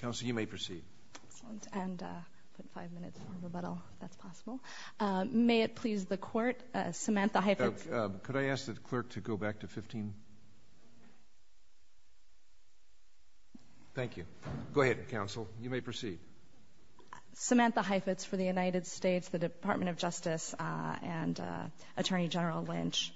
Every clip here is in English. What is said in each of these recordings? Counsel, you may proceed. May it please the court, Samantha Heifetz. Could I ask the clerk to go back to 15? Thank you. Go ahead, counsel. You may proceed. Samantha Heifetz for the United States, the Department of Justice and Attorney General Lynch.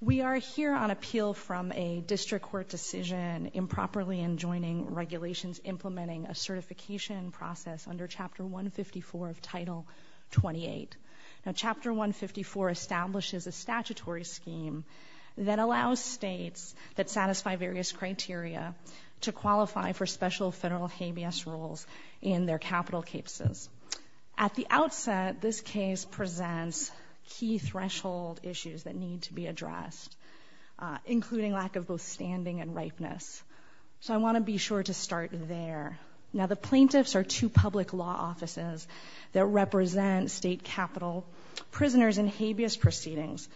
We are here on appeal from a district court decision improperly enjoining regulations implementing a certification process under Chapter 154 of Title 28. Now, Chapter 154 establishes a statutory scheme that allows states that satisfy various criteria to qualify for special federal habeas rules in their capital cases. At the outset, this case presents key threshold issues that want to be sure to start there. Now, the plaintiffs are two public law offices that represent state capital prisoners in habeas proceedings.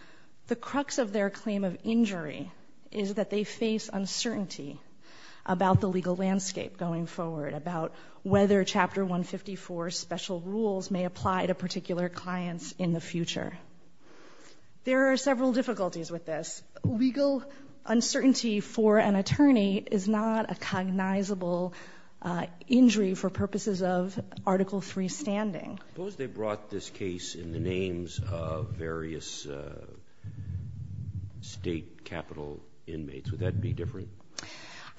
The crux of their claim of injury is that they face uncertainty about the legal landscape going forward, about whether Chapter 154 special rules may apply to particular clients in the future. There are several difficulties with this. Legal uncertainty for an attorney is not a cognizable injury for purposes of Article III standing. Suppose they brought this case in the names of various state capital inmates. Would that be different?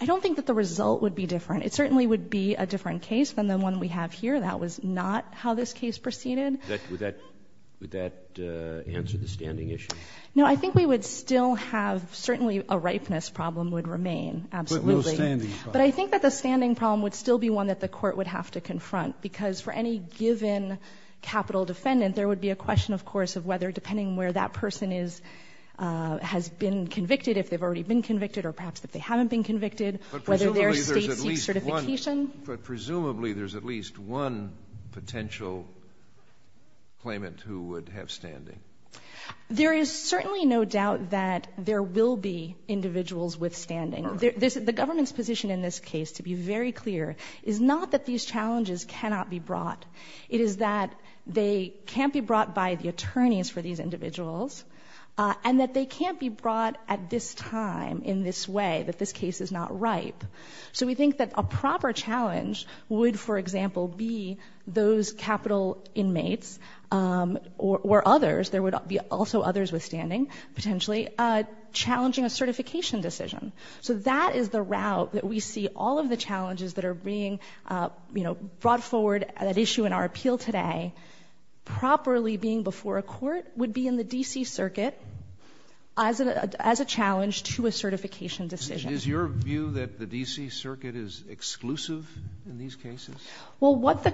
I don't think that the result would be different. It certainly would be a different case than the one we have here. That was not how this case proceeded. Would that answer the standing issue? No, I think we would still have certainly a ripeness problem would remain, absolutely. But I think that the standing problem would still be one that the court would have to confront, because for any given capital defendant, there would be a question, of course, of whether, depending on where that person is, has been convicted, if they've already been convicted, or perhaps if they haven't been convicted, whether there's state certification. But presumably there's at least one potential claimant who would have standing? There is certainly no doubt that there will be individuals with standing. The government's position in this case, to be very clear, is not that these challenges cannot be brought. It is that they can't be brought by the attorneys for these individuals, and that they can't be brought at this time, in this way, that this case is not ripe. So we think that a proper challenge would, for example, be those capital inmates, or others, there would be also others with standing, potentially, challenging a certification decision. So that is the route that we see all of the challenges that are being brought forward at issue in our appeal today, properly being before a court, would be in the D.C. Circuit as a challenge to a certification decision. Is your view that the D.C. Circuit is exclusive in these cases? Well, what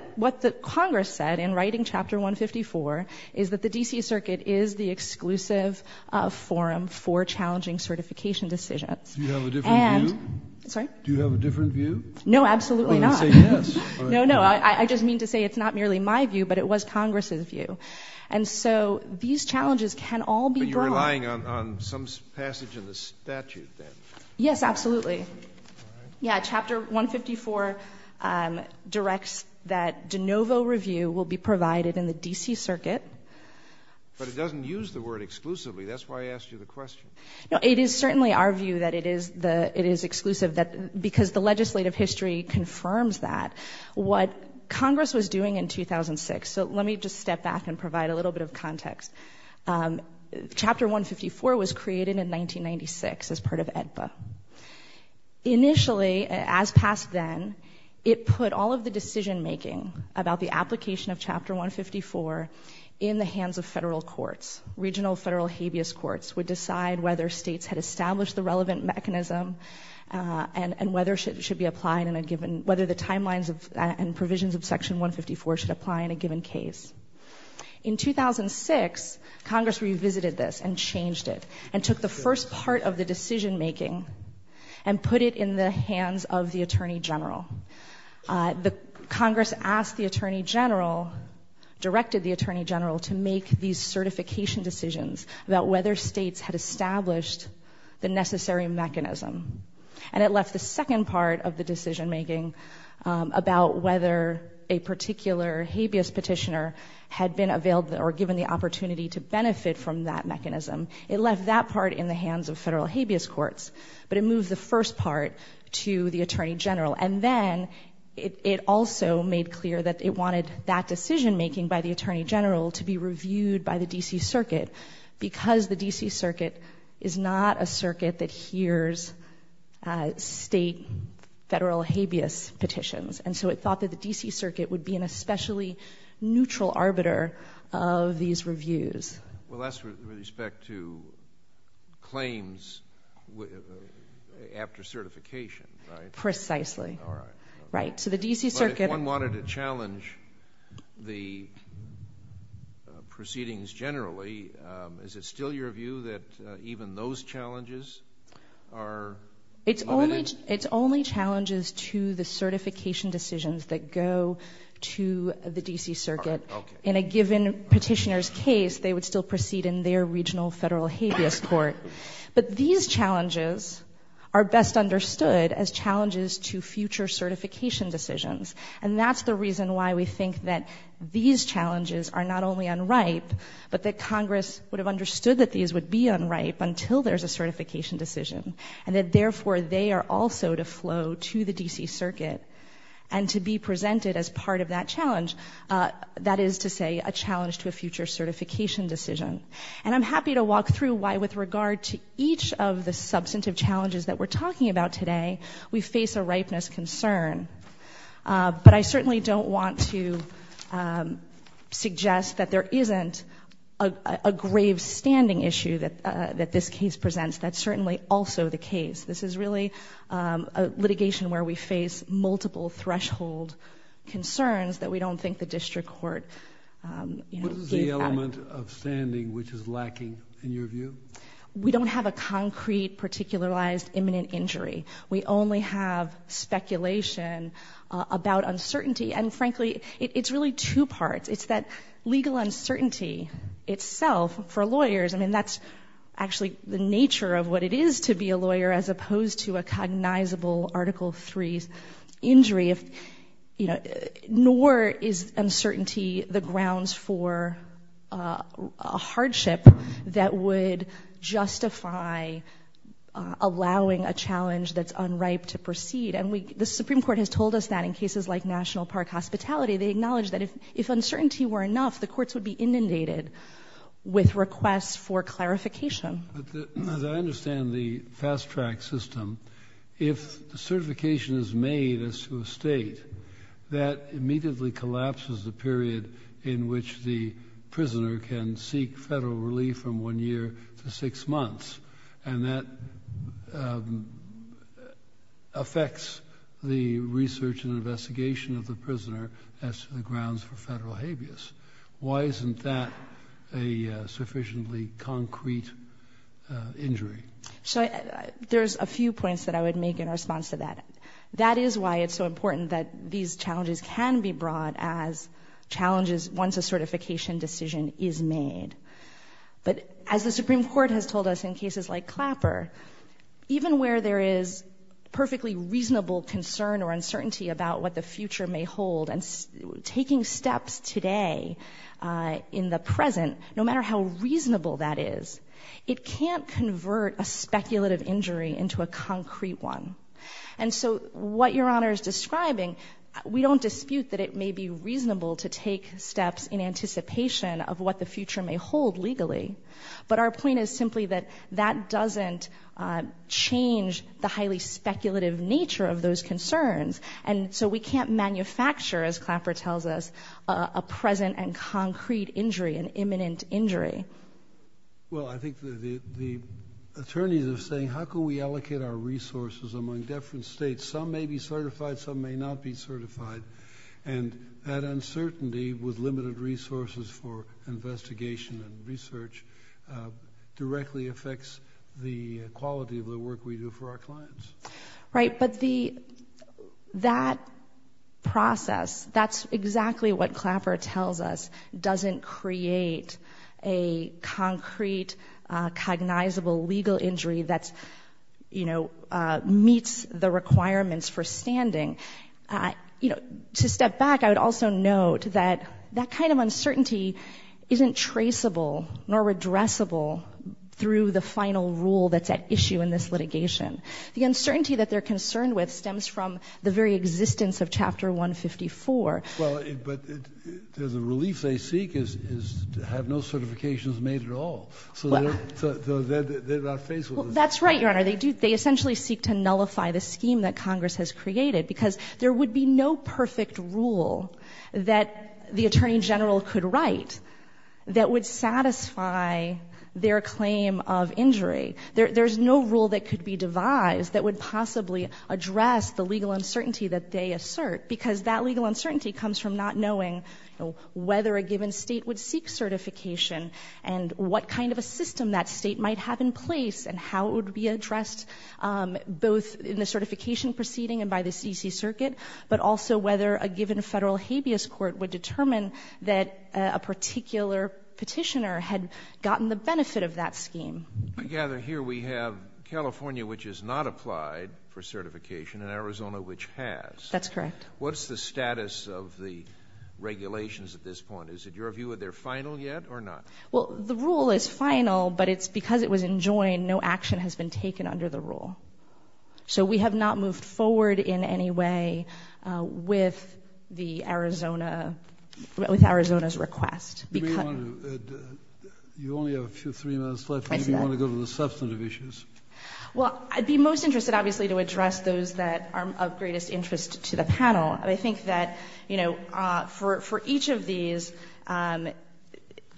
the Congress said in writing Chapter 154 is that the D.C. Circuit is the exclusive forum for challenging certification decisions. Do you have a different view? No, absolutely not. No, no. I just mean to say it's not merely my view, but it was Congress's view. And so these challenges can all be brought. But you're relying on some passage in the statute, then? Yes, absolutely. Yeah, Chapter 154 directs that de novo review will be provided in the D.C. Circuit. But it doesn't use the word exclusively. That's why I asked you the question. No, it is certainly our view that it is exclusive, because the legislative history confirms that. What Congress was doing in 2006, so let me just step back and provide a little bit of context. Chapter 154 was created in 1996 as part of AEDPA. Initially, as past then, it put all of the decision-making about the application of Chapter 154 in the hands of federal courts. Regional federal habeas courts would decide whether states had established the relevant mechanism and whether it should be applied in a given, whether the timelines and provisions of Section 154 should apply in a given case. In 2006, Congress revisited this and changed it and took the first part of the decision making and put it in the hands of the Attorney General. Congress asked the Attorney General, directed the Attorney General, to make these certification decisions about whether states had established the necessary mechanism. And it left the second part of the decision-making about whether a particular habeas petitioner had been availed or given the opportunity to benefit from that mechanism. It left that part in the hands of federal habeas courts, but it moved the first part to the Attorney General. And then, it also made clear that it wanted that decision-making by the Attorney General to be reviewed by the DC Circuit, because the DC Circuit is not a circuit that hears state federal habeas petitions. And so it thought that the DC Circuit would be an especially neutral arbiter of these reviews. Well, that's with respect to claims after certification, right? Precisely, right. So the DC Circuit... But if one wanted to challenge the proceedings generally, is it still your view that even those challenges are... It's only challenges to the certification decisions that go to the DC Circuit. In a given petitioner's case, they would still proceed in their regional federal habeas court. But these challenges are best understood as challenges to future certification decisions. And that's the reason why we think that these challenges are not only unripe, but that Congress would have understood that these would be unripe until there's a certification decision. And that, therefore, they are also to flow to the DC Circuit and to be presented as part of that challenge. That is to say, a certification decision. And I'm happy to walk through why, with regard to each of the substantive challenges that we're talking about today, we face a ripeness concern. But I certainly don't want to suggest that there isn't a grave standing issue that this case presents. That's certainly also the case. This is really a litigation where we face multiple threshold concerns that we face. Is there a moment of standing which is lacking, in your view? We don't have a concrete, particularized, imminent injury. We only have speculation about uncertainty. And frankly, it's really two parts. It's that legal uncertainty itself for lawyers. I mean, that's actually the nature of what it is to be a lawyer, as opposed to a cognizable Article 3 injury. If, you know, nor is uncertainty the grounds for a hardship that would justify allowing a challenge that's unripe to proceed. And we, the Supreme Court has told us that in cases like National Park Hospitality, they acknowledge that if uncertainty were enough, the courts would be inundated with requests for clarification. As I understand the fast-track system, if the certification is made as to a state, that immediately collapses the period in which the prisoner can seek federal relief from one year to six months. And that affects the research and investigation of the prisoner as to the grounds for federal habeas. Why isn't that a sufficiently concrete injury? So there's a few points that I would make in response to that. That is why it's so important that a certification decision is made. But as the Supreme Court has told us in cases like Clapper, even where there is perfectly reasonable concern or uncertainty about what the future may hold, and taking steps today in the present, no matter how reasonable that is, it can't convert a speculative injury into a concrete one. And so what Your Honor is describing, we don't dispute that it may be reasonable to take steps in anticipation of what the future may hold legally. But our point is simply that that doesn't change the highly speculative nature of those concerns. And so we can't manufacture, as Clapper tells us, a present and concrete injury, an imminent injury. Well I think the attorneys are saying, how can we allocate our resources among different states? Some may be certified, some may not be certified. And that uncertainty, with limited resources for investigation and research, directly affects the quality of the work we do for our clients. Right, but that process, that's exactly what Clapper tells us, doesn't create a concrete, cognizable legal injury that meets the requirements for standing. To step back, I would also note that that kind of uncertainty isn't traceable nor redressable through the final rule that's at issue in this litigation. The uncertainty that they're concerned with stems from the very existence of Chapter 154. Well, but the relief they seek is to have no certifications made at all. So they're not faithful. That's right, Your Honor. They essentially seek to nullify the scheme that Congress has created because there would be no perfect rule that the Attorney General could write that would satisfy their claim of injury. There's no rule that could be devised that would possibly address the legal uncertainty that they assert because that legal uncertainty comes from not knowing whether a given state would seek certification and what kind of a system that state might have in place and how it would be addressed, both in the certification proceeding and by the C.C. Circuit, but also whether a given federal habeas court would determine that a particular petitioner had gotten the benefit of that scheme. I gather here we have California, which has not applied for certification, and Arizona, which has. That's correct. What's the status of the regulations at this point? Is it, your view, are they final yet or not? Well, the rule is final, but it's because it was enjoined, no action has been taken under the rule. So we have not moved forward in any way with the Arizona, with Arizona's request. You only have a few, three minutes left. Maybe you want to go to the substantive issues. Well, I'd be most interested, obviously, to address those that are of greatest interest to the panel. I think that, you know, for each of these,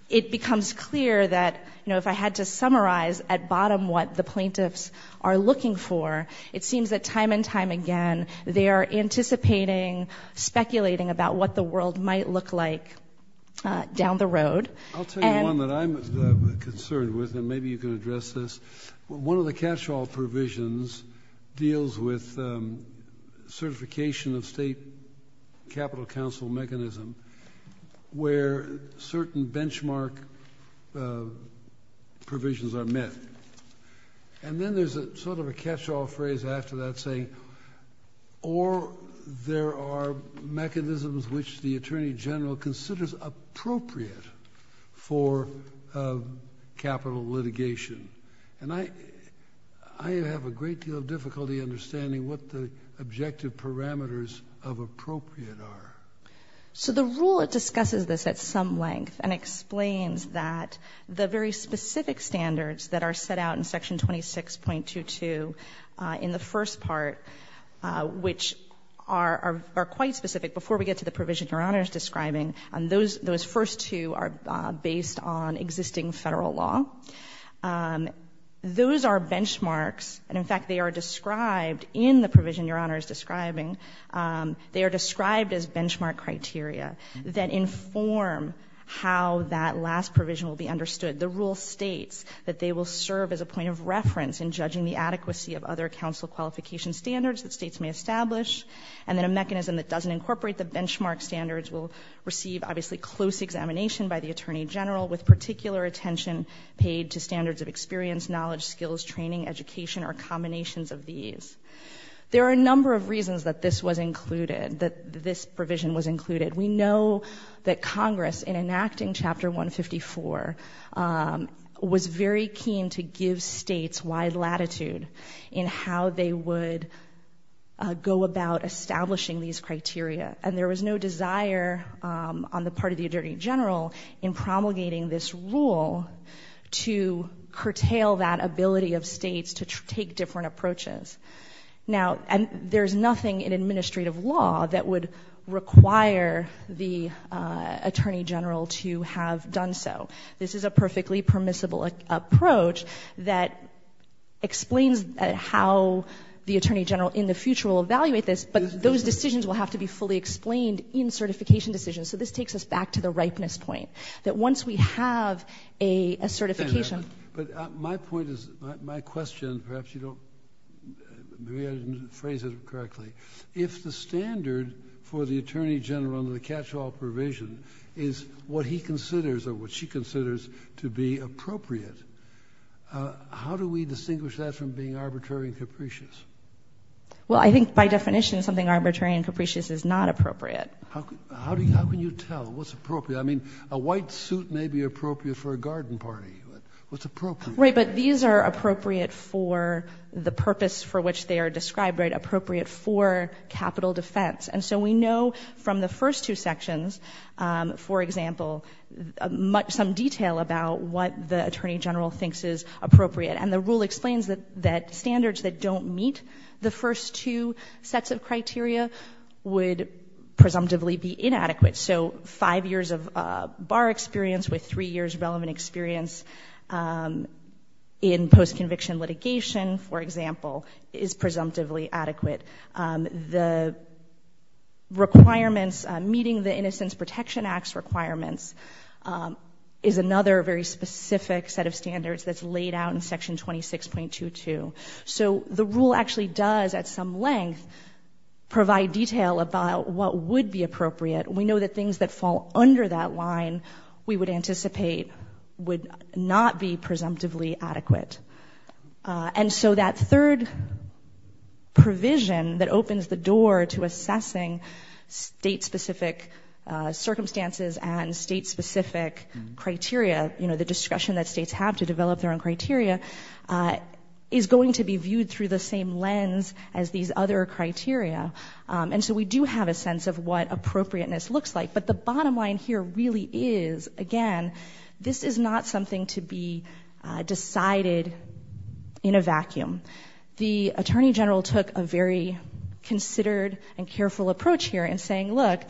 it becomes clear that, you know, if I had to at bottom what the plaintiffs are looking for, it seems that time and time again, they are anticipating, speculating about what the world might look like down the road. I'll tell you one that I'm concerned with, and maybe you can address this. One of the catch-all provisions deals with certification of state capital counsel mechanism where certain benchmark provisions are met. And then there's a sort of a catch-all phrase after that saying, or there are mechanisms which the Attorney General considers appropriate for capital litigation. And I, I have a great deal of difficulty understanding what the So the rule, it discusses this at some length and explains that the very specific standards that are set out in Section 26.22 in the first part, which are, are quite specific before we get to the provision Your Honor is describing, and those, those first two are based on existing Federal law. Those are benchmarks, and in fact, they are described in the provision Your Honor is describing. They are described as benchmark criteria that inform how that last provision will be understood. The rule states that they will serve as a point of reference in judging the adequacy of other counsel qualification standards that states may establish, and then a mechanism that doesn't incorporate the benchmark standards will receive, obviously, close examination by the Attorney General with particular attention paid to standards of experience, knowledge, skills, training, education, or combinations of these. There are a number of reasons that this was provision was included. We know that Congress, in enacting Chapter 154, was very keen to give states wide latitude in how they would go about establishing these criteria. And there was no desire on the part of the Attorney General in promulgating this rule to curtail that ability of states to take different approaches. Now, there's nothing in administrative law that would require the Attorney General to have done so. This is a perfectly permissible approach that explains how the Attorney General in the future will evaluate this, but those decisions will have to be fully explained in certification decisions. So this takes us back to the ripeness point, that once we have a certification My point is, my question, perhaps you don't phrase it correctly, if the standard for the Attorney General under the catch-all provision is what he considers or what she considers to be appropriate, how do we distinguish that from being arbitrary and capricious? Well, I think by definition something arbitrary and capricious is not appropriate. How can you tell what's appropriate? Right, but these are appropriate for the purpose for which they are described, right, appropriate for capital defense. And so we know from the first two sections, for example, some detail about what the Attorney General thinks is appropriate. And the rule explains that standards that don't meet the first two sets of criteria would presumptively be adequate. The experience in post-conviction litigation, for example, is presumptively adequate. The requirements meeting the Innocence Protection Act's requirements is another very specific set of standards that's laid out in section 26.22. So the rule actually does, at some length, provide detail about what would be appropriate. We know that things that fall under that line, we would anticipate would not be presumptively adequate. And so that third provision that opens the door to assessing state-specific circumstances and state-specific criteria, you know, the discretion that states have to develop their own criteria, is going to be viewed through the same lens as these other criteria. And so we do have a sense of what appropriateness looks like, but the reality is, again, this is not something to be decided in a vacuum. The Attorney General took a very considered and careful approach here in saying, look,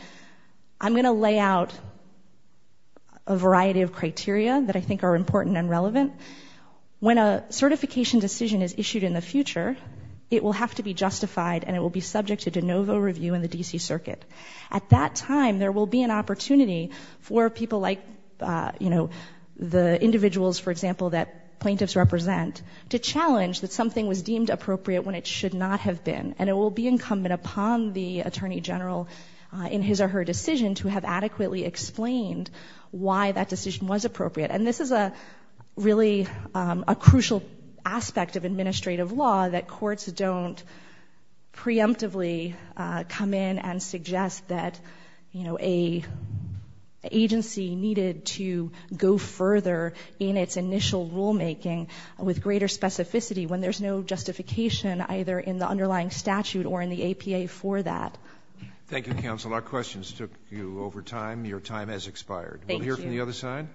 I'm going to lay out a variety of criteria that I think are important and relevant. When a certification decision is issued in the future, it will have to be justified and it will be subject to de novo review in the D.C. Circuit. At that time, there will be an opportunity for people like, you know, the individuals, for example, that plaintiffs represent, to challenge that something was deemed appropriate when it should not have been. And it will be incumbent upon the Attorney General, in his or her decision, to have adequately explained why that decision was appropriate. And this is a really crucial aspect of administrative law, that courts don't preemptively come in and suggest that, you know, a agency needed to go further in its initial rulemaking with greater specificity when there's no justification either in the underlying statute or in the APA for that. Thank you, counsel. Our questions took you over time. Your time has expired. Thank you. We'll hear from the other side.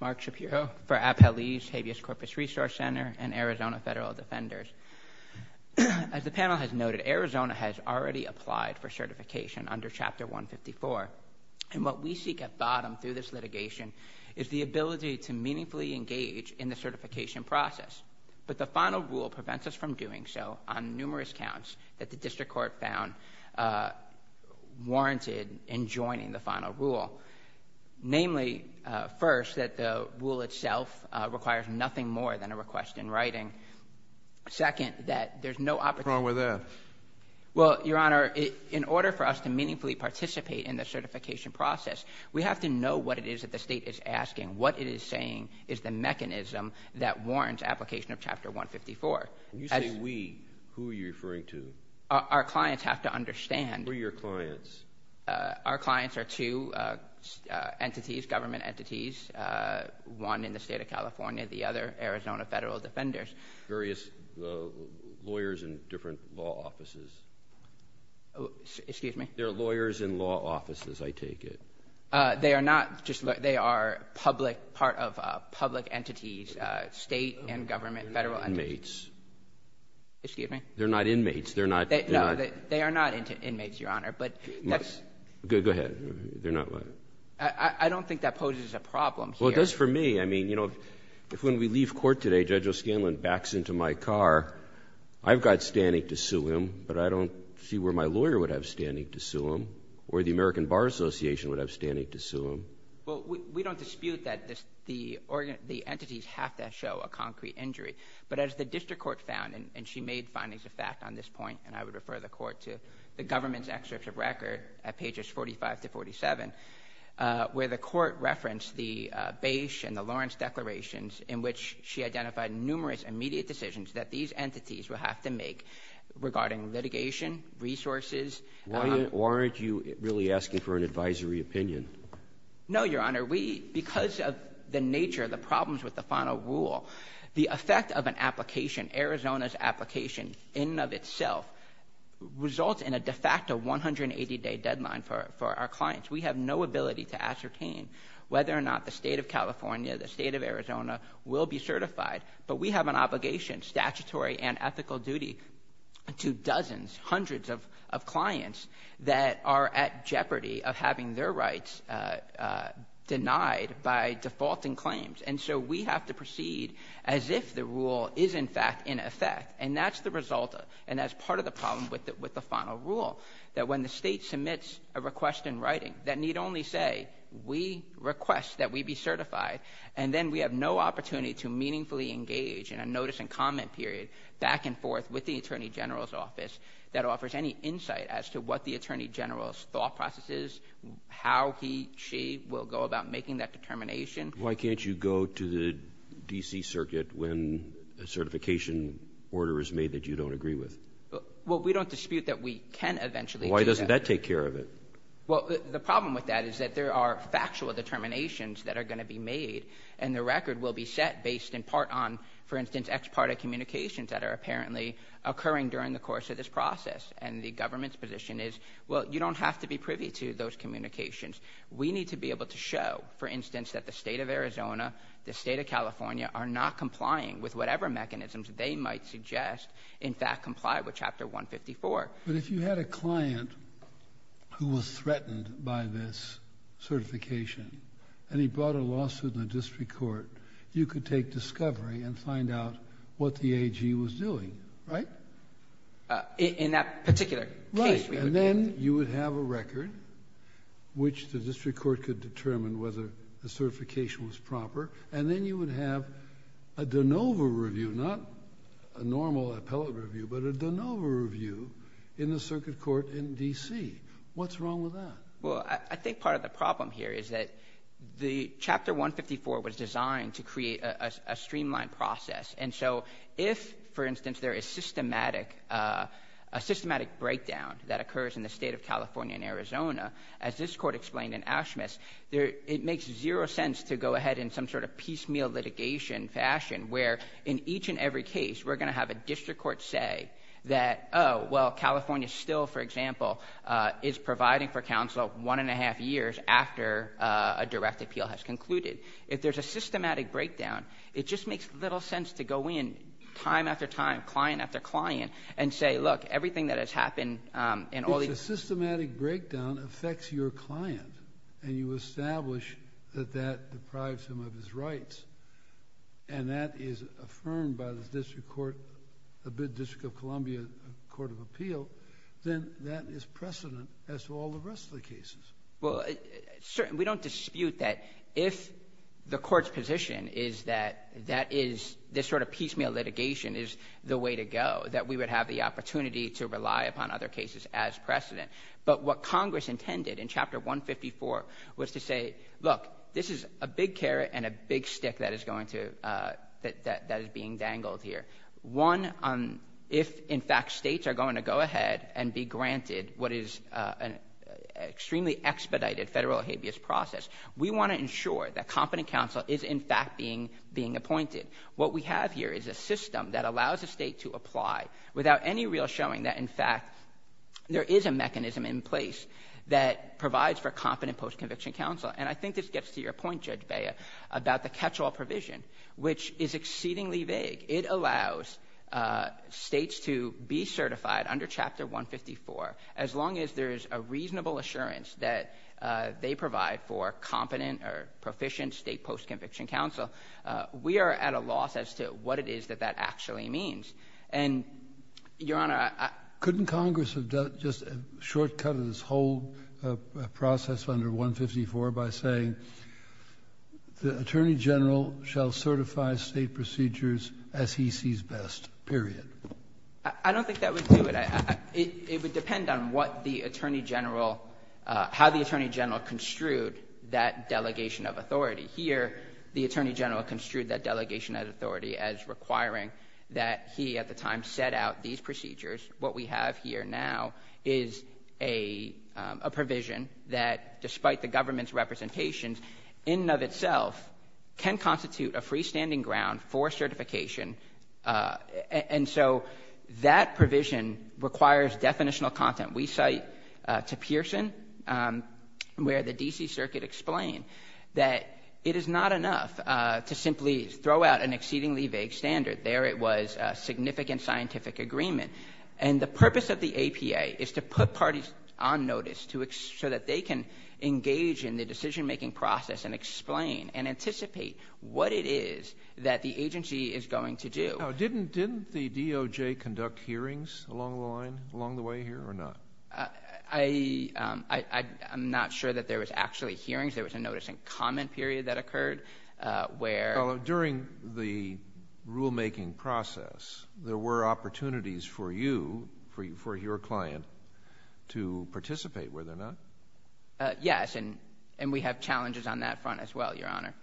Mark Shapiro for Appellee's Habeas Corpus Resource Center and Arizona Federal Defenders. As the panel has noted, Arizona has already applied for certification under Chapter 154. And what we seek at bottom through this litigation is the final rule prevents us from doing so on numerous counts that the District Court found warranted in joining the final rule. Namely, first, that the rule itself requires nothing more than a request in writing. Second, that there's no opportunity... What's wrong with that? Well, Your Honor, in order for us to meaningfully participate in the certification process, we have to know what it is that the State is asking. What it is saying is the mechanism that warrants application of Chapter 154. When you say we, who are you referring to? Our clients have to understand... Who are your clients? Our clients are two entities, government entities, one in the State of California, the other Arizona Federal Defenders. Various lawyers in different law offices. Excuse me? They're lawyers in law offices, I take it. They are not just... they are public... part of public entities, State and government Federal... They're not inmates. Excuse me? They're not inmates. They're not... No, they are not inmates, Your Honor, but that's... Go ahead. They're not... I don't think that poses a problem here. Well, it does for me. I mean, you know, if when we leave court today, Judge O'Scanlan backs into my car, I've got standing to sue him, but I don't see where my lawyer would have standing to sue him, or the American Bar Association would have standing to sue him. Well, we don't dispute that the entities have to show a concrete injury, but as the district court found, and she made findings of fact on this point, and I would refer the court to the government's excerpts of record at pages 45 to 47, where the court referenced the Bache and the Lawrence declarations in which she identified numerous immediate decisions that these entities will have to make regarding litigation, resources... Why aren't you really asking for an advisory opinion? No, Your Honor. We... because of the nature of the problems with the final rule, the effect of an application, Arizona's application in and of itself, results in a de facto 180-day deadline for our clients. We have no ability to ascertain whether or not the State of California, the State of Arizona, will be certified, but we have an obligation, statutory and ethical duty, to dozens, hundreds of clients that are at jeopardy of having their rights denied by defaulting claims, and so we have to proceed as if the rule is, in fact, in effect, and that's the result, and that's part of the problem with the final rule, that when the state submits a request in writing that need only say, we request that we be certified, and then we have no opportunity to meaningfully engage in a notice and comment period back and forth with the Attorney General's office that offers any insight as to what the Attorney General's thought process is, how he, she will go about making that determination. Why can't you go to the D.C. Circuit when a certification order is made that you don't agree with? Well, we don't dispute that we can eventually do that. Why doesn't that take care of it? Well, the problem with that is that there are factual determinations that are going to be made, and the record will be set based in part on, for instance, ex parte communications that are apparently occurring during the course of this process, and the government's position is, well, you don't have to be privy to those communications. We need to be able to show, for instance, that the state of Arizona, the state of California are not complying with whatever mechanisms they might suggest, in fact, comply with Chapter 154. But if you had a client who was threatened by this certification, and he sought a lawsuit in the district court, you could take discovery and find out what the AG was doing, right? In that particular case. Right. And then, you would have a record, which the district court could determine whether the certification was proper, and then you would have a de novo review, not a normal appellate review, but a de novo review in the circuit court in D.C. What's wrong with that? Well, I think part of the problem here is that the Chapter 154 was designed to create a streamlined process. And so, if, for instance, there is systematic, a systematic breakdown that occurs in the state of California and Arizona, as this court explained in Ashmis, it makes zero sense to go ahead in some sort of piecemeal litigation fashion, where in each and every case, we're going to have a district court say that, oh, well, California still, for example, is providing for counsel one and a half years after a direct appeal has concluded. If there's a systematic breakdown, it just makes little sense to go in time after time, client after client, and say, look, everything that has happened in all these... But if the systematic breakdown affects your client, and you establish that that deprives him of his rights, and that is affirmed by the district court of Columbia Court of Appeal, then that is precedent as to all the rest of the cases. Well, certainly, we don't dispute that if the court's position is that that is this sort of piecemeal litigation is the way to go, that we would have the opportunity to rely upon other cases as precedent. But what Congress intended in Chapter 154 was to say, look, this is a big stick that is going to... that is being dangled here. One, if, in fact, states are going to go ahead and be granted what is an extremely expedited federal habeas process, we want to ensure that competent counsel is, in fact, being appointed. What we have here is a system that allows a state to apply without any real showing that, in fact, there is a mechanism in place that provides for competent post-conviction counsel. And I think this gets to your point, Judge Bea, about the catch-all provision, which is exceedingly vague. It allows states to be certified under Chapter 154. As long as there is a reasonable assurance that they provide for competent or proficient state post-conviction counsel, we are at a loss as to what it is that that actually means. And, Your Honor... Couldn't Congress have just shortcutted this whole process under 154 by saying, the Attorney General shall certify state procedures as he sees best, period? I don't think that would do it. It would depend on what the Attorney General... how the Attorney General construed that delegation of authority. Here, the Attorney General construed that delegation of authority as requiring that he, at the time, set out these procedures. What we have here now is a provision that, despite the government's representations, in and of itself, can constitute a freestanding ground for certification. And so, that provision requires definitional content. We cite to Pearson, where the D.C. Circuit explained that it is not enough to simply throw out an exceedingly vague standard. There, it was a significant scientific agreement. And the purpose of the APA is to put parties on notice so that they can engage in the decision-making process and explain and anticipate what it is that the agency is going to do. Now, didn't the DOJ conduct hearings along the line, along the way here, or not? I'm not sure that there was actually hearings. There was a notice and comment period that occurred, where... Well, during the rulemaking process, there were opportunities for you, for your client, to participate, were there not? Yes. And we have challenges on that front as well, Your Honor.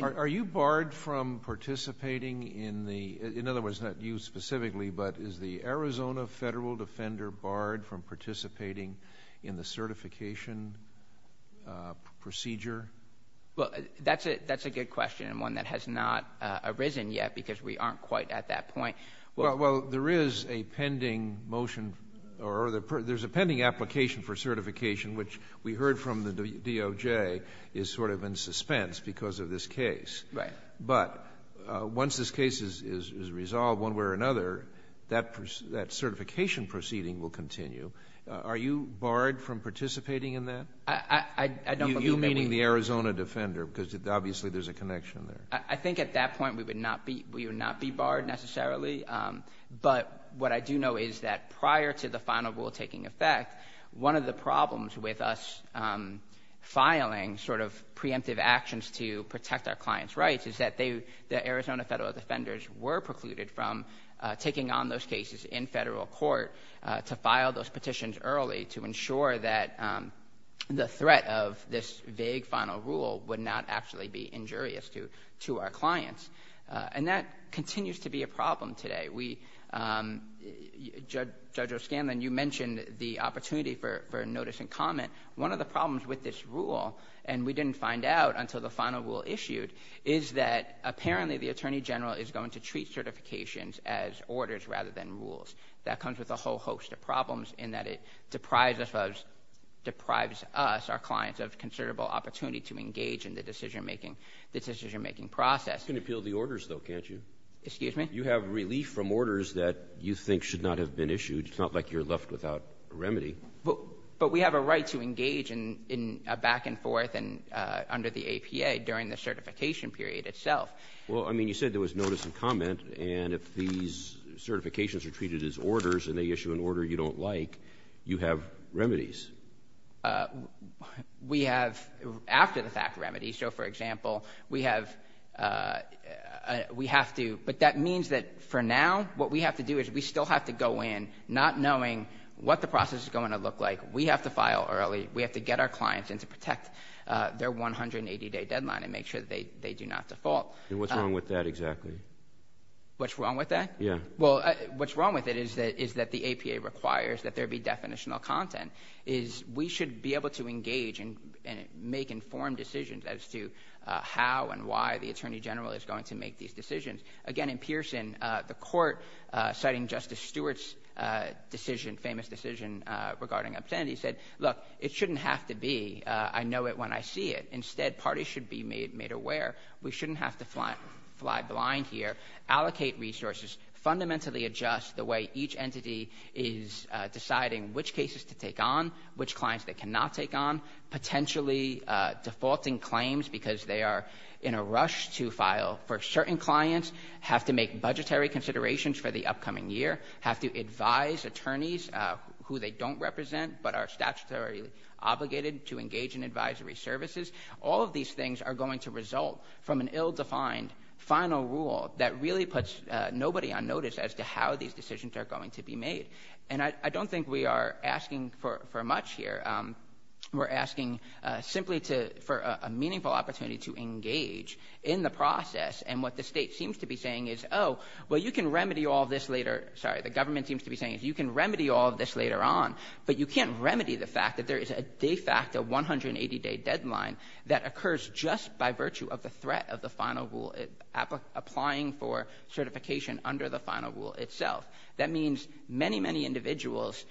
Are you barred from participating in the... in other words, not you specifically, but is the Arizona Federal Defender barred from participating in the certification procedure? Well, that's a good question, and one that has not arisen yet, because we aren't quite at that point. Well, there is a pending motion, or there's a pending application for certification, which we heard from the DOJ, is sort of in suspense because of this case. But once this case is resolved, one way or another, that certification proceeding will continue. Are you barred from participating in that? I don't believe... So you meaning the Arizona Defender, because obviously, there's a connection there. I think at that point, we would not be barred necessarily. But what I do know is that prior to the final rule taking effect, one of the problems with us filing sort of preemptive actions to protect our client's rights is that the Arizona Federal Defenders were precluded from taking on those cases in federal court to file those petitions early to ensure that the threat of this vague final rule would not actually be injurious to our clients. And that continues to be a problem today. Judge O'Scanlan, you mentioned the opportunity for notice and comment. One of the problems with this rule, and we didn't find out until the final rule issued, is that apparently the Attorney General is going to treat certifications as orders rather than rules. That comes with a whole host of problems in that it deprives us, our clients, of considerable opportunity to engage in the decision-making process. You can appeal the orders though, can't you? Excuse me? You have relief from orders that you think should not have been issued. It's not like you're left without a remedy. But we have a right to engage in a back and forth under the APA during the certification period itself. Well, I mean, you said there was notice and comment. And if these certifications are treated as orders and they issue an order you don't like, you have remedies. We have after-the-fact remedies. So, for example, we have to, but that means that for now, what we have to do is we still have to go in not knowing what the process is going to look like. We have to file early. We have to get our clients in to protect their 180-day deadline and make sure that they do not default. And what's wrong with that exactly? What's wrong with that? Yeah. Well, what's wrong with it is that the APA requires that there be definitional content, is we should be able to engage and make informed decisions as to how and why the Attorney General is going to make these decisions. Again, in Pearson, the court, citing Justice Stewart's decision, famous decision regarding obscenity, said, look, it shouldn't have to be, I know it when I see it. Instead, parties should be made aware. We shouldn't have to fly blind here, allocate resources, fundamentally adjust the way each entity is deciding which cases to take on, which clients they cannot take on, potentially defaulting claims because they are in a rush to file for certain clients, have to make budgetary considerations for the upcoming year, have to advise attorneys who they don't represent but are statutorily obligated to engage in advisory services. All of these things are going to result from an ill-defined final rule that really puts nobody on notice as to how these decisions are going to be made. And I don't think we are asking for much here. We're asking simply for a meaningful opportunity to engage in the process. And what the state seems to be saying is, oh, well, you can remedy all this later, sorry, the government seems to be saying is you can remedy all of this later on, but you can't a 180-day deadline that occurs just by virtue of the threat of the final rule applying for certification under the final rule itself. That means many, many individuals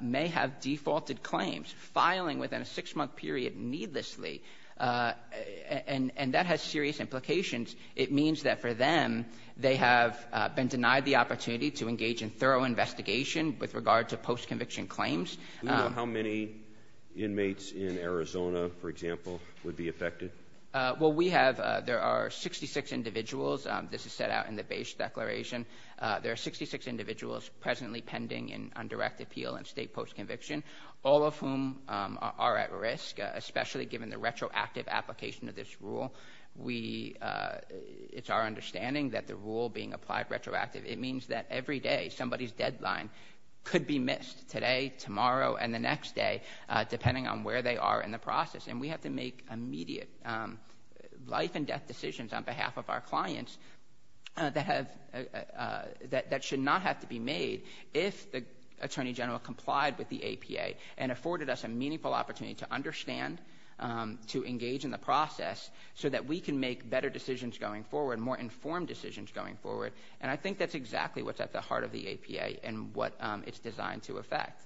may have defaulted claims, filing within a six-month period needlessly, and that has serious implications. It means that for them, they have been denied the opportunity to engage in thorough investigation with regard to post-conviction claims. Do you know how many inmates in Arizona, for example, would be affected? Well, we have – there are 66 individuals – this is set out in the base declaration – there are 66 individuals presently pending an undirected appeal in state post-conviction, all of whom are at risk, especially given the retroactive application of this rule. We – it's our understanding that the rule being applied retroactively, it means that every day, somebody's deadline could be missed today, tomorrow, and the next day, depending on where they are in the process. And we have to make immediate life-and-death decisions on behalf of our clients that have – that should not have to be made if the Attorney General complied with the APA and afforded us a meaningful opportunity to understand, to engage in the process, so that we can make better decisions going forward, more informed decisions going forward. And I think that's exactly what's at the heart of the APA and what it's designed to affect.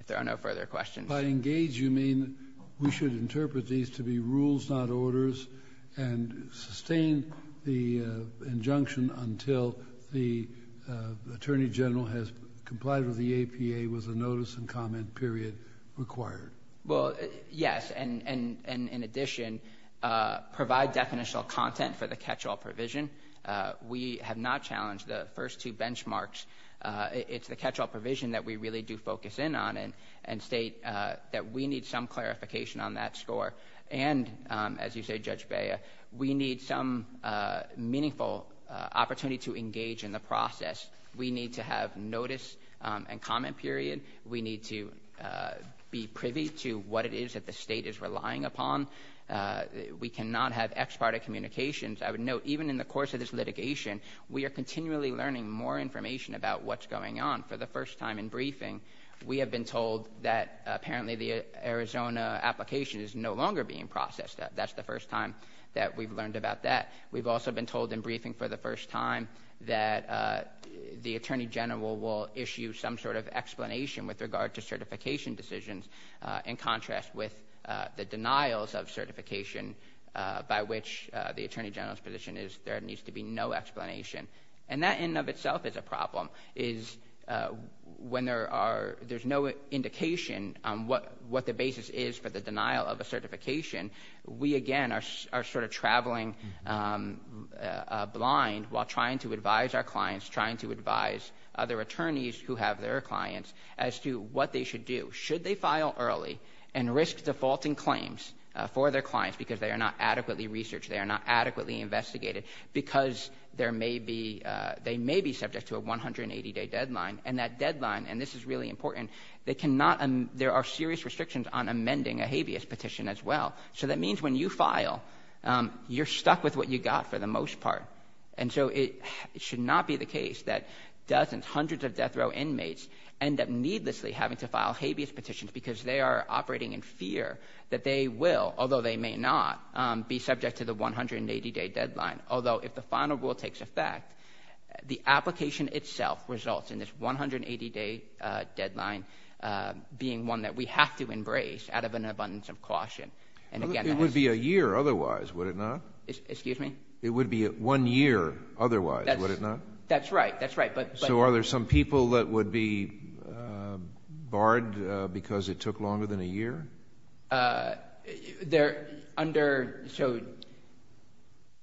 If there are no further questions – By engage, you mean we should interpret these to be rules, not orders, and sustain the injunction until the Attorney General has complied with the APA with a notice and comment period required? Well, yes, and in addition, provide definitional content for the catch-all provision. We have not challenged the first two benchmarks. It's the catch-all provision that we really do focus in on and state that we need some clarification on that score. And as you say, Judge Bea, we need some meaningful opportunity to engage in the process. We need to have notice and comment period. We need to be privy to what it is that the state is relying upon. We cannot have ex parte communications. I would note, even in the course of this litigation, we are continually learning more information about what's going on. For the first time in briefing, we have been told that apparently the Arizona application is no longer being processed. That's the first time that we've learned about that. We've also been told in briefing for the first time that the Attorney General will issue some sort of explanation with regard to certification decisions in contrast with the denials of certification by which the Attorney General's position is there needs to be no explanation. And that in and of itself is a problem, is when there's no indication on what the basis is for the denial of a certification, we again are sort of traveling blind while trying to who have their clients as to what they should do. Should they file early and risk defaulting claims for their clients because they are not adequately researched, they are not adequately investigated, because they may be subject to a 180-day deadline, and that deadline, and this is really important, there are serious restrictions on amending a habeas petition as well. So that means when you file, you're stuck with what you got for the most part. And so it should not be the case that dozens, hundreds of death row inmates end up needlessly having to file habeas petitions because they are operating in fear that they will, although they may not, be subject to the 180-day deadline, although if the final rule takes effect, the application itself results in this 180-day deadline being one that we have to embrace out of an abundance of caution. And again— It would be a year otherwise, would it not? Excuse me? It would be one year otherwise, would it not? That's right, that's right, but— So are there some people that would be barred because it took longer than a year? They're under—so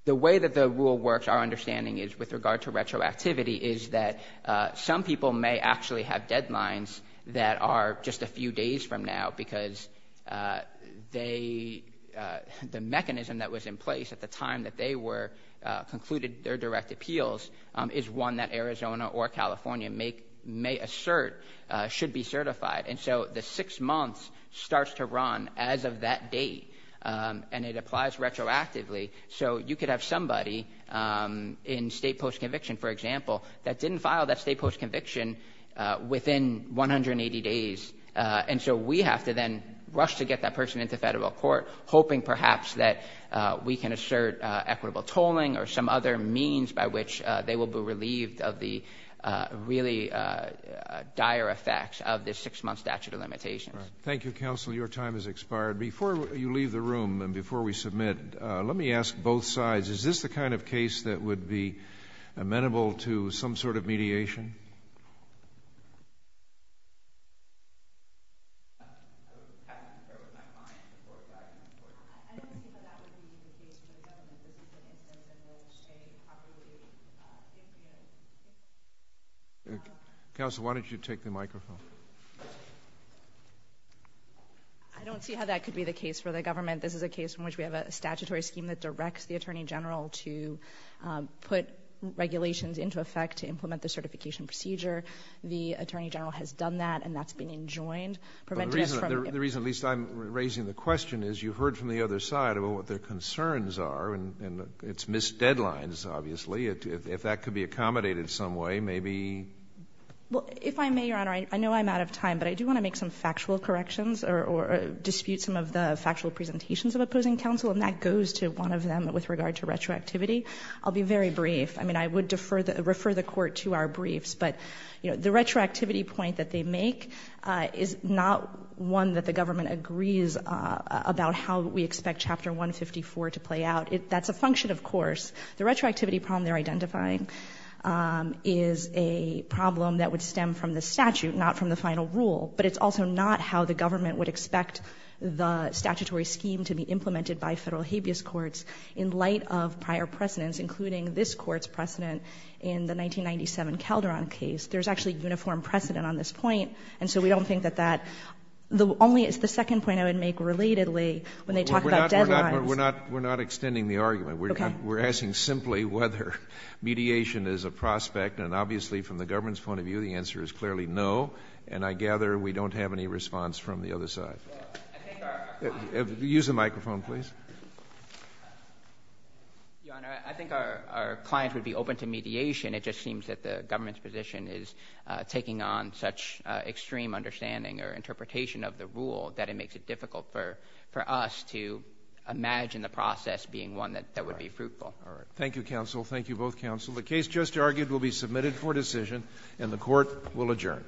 the way that the rule works, our understanding is with regard to retroactivity is that some people may actually have deadlines that are just a few days from now because they—the mechanism that was in place at the time that they were—concluded their direct appeals is one that Arizona or California may assert should be certified. And so the six months starts to run as of that date, and it applies retroactively. So you could have somebody in state post-conviction, for example, that didn't file that state post-conviction within 180 days. And so we have to then rush to get that person into federal court, hoping perhaps that we can assert equitable tolling or some other means by which they will be relieved of the really dire effects of this six-month statute of limitations. Thank you, counsel. Your time has expired. Before you leave the room and before we submit, let me ask both sides, is this the kind of case that would be amenable to some sort of mediation? I would have to share with my client before driving to court. I don't think that that would be the case for the government. This is a case in which they probably— Counsel, why don't you take the microphone? I don't see how that could be the case for the government. This is a case in which we have a statutory scheme that directs the attorney general to put regulations into effect to implement the certification procedure. The attorney general has done that, and that's been enjoined. The reason at least I'm raising the question is you heard from the other side about what their concerns are, and it's missed deadlines, obviously. If that could be accommodated some way, maybe— Well, if I may, Your Honor, I know I'm out of time, but I do want to make some factual corrections or dispute some of the factual presentations of opposing counsel, and that goes to one of them with regard to retroactivity. I'll be very brief. I mean, I would refer the court to our briefs, but the retroactivity point that they make is not one that the government agrees about how we expect Chapter 154 to play out. That's a function, of course. The retroactivity problem they're identifying is a problem that would stem from the statute, not from the final rule, but it's also not how the government would expect the statutory scheme to be implemented by federal habeas courts in light of prior precedents, including this Court's precedent in the 1997 Calderon case. There's actually uniform precedent on this point, and so we don't think that that—the only—the second point I would make relatedly, when they talk about deadlines— We're not extending the argument. Okay. We're asking simply whether mediation is a prospect, and obviously from the government's point of view, the answer is clearly no, and I gather we don't have any response from the other side. Well, I think our— Use the microphone, please. Your Honor, I think our client would be open to mediation. It just seems that the government's position is taking on such extreme understanding or interpretation of the rule that it makes it difficult for us to imagine the process being one that would be fruitful. All right. Thank you, counsel. Thank you both, counsel. The case just argued will be submitted for decision, and the Court will adjourn.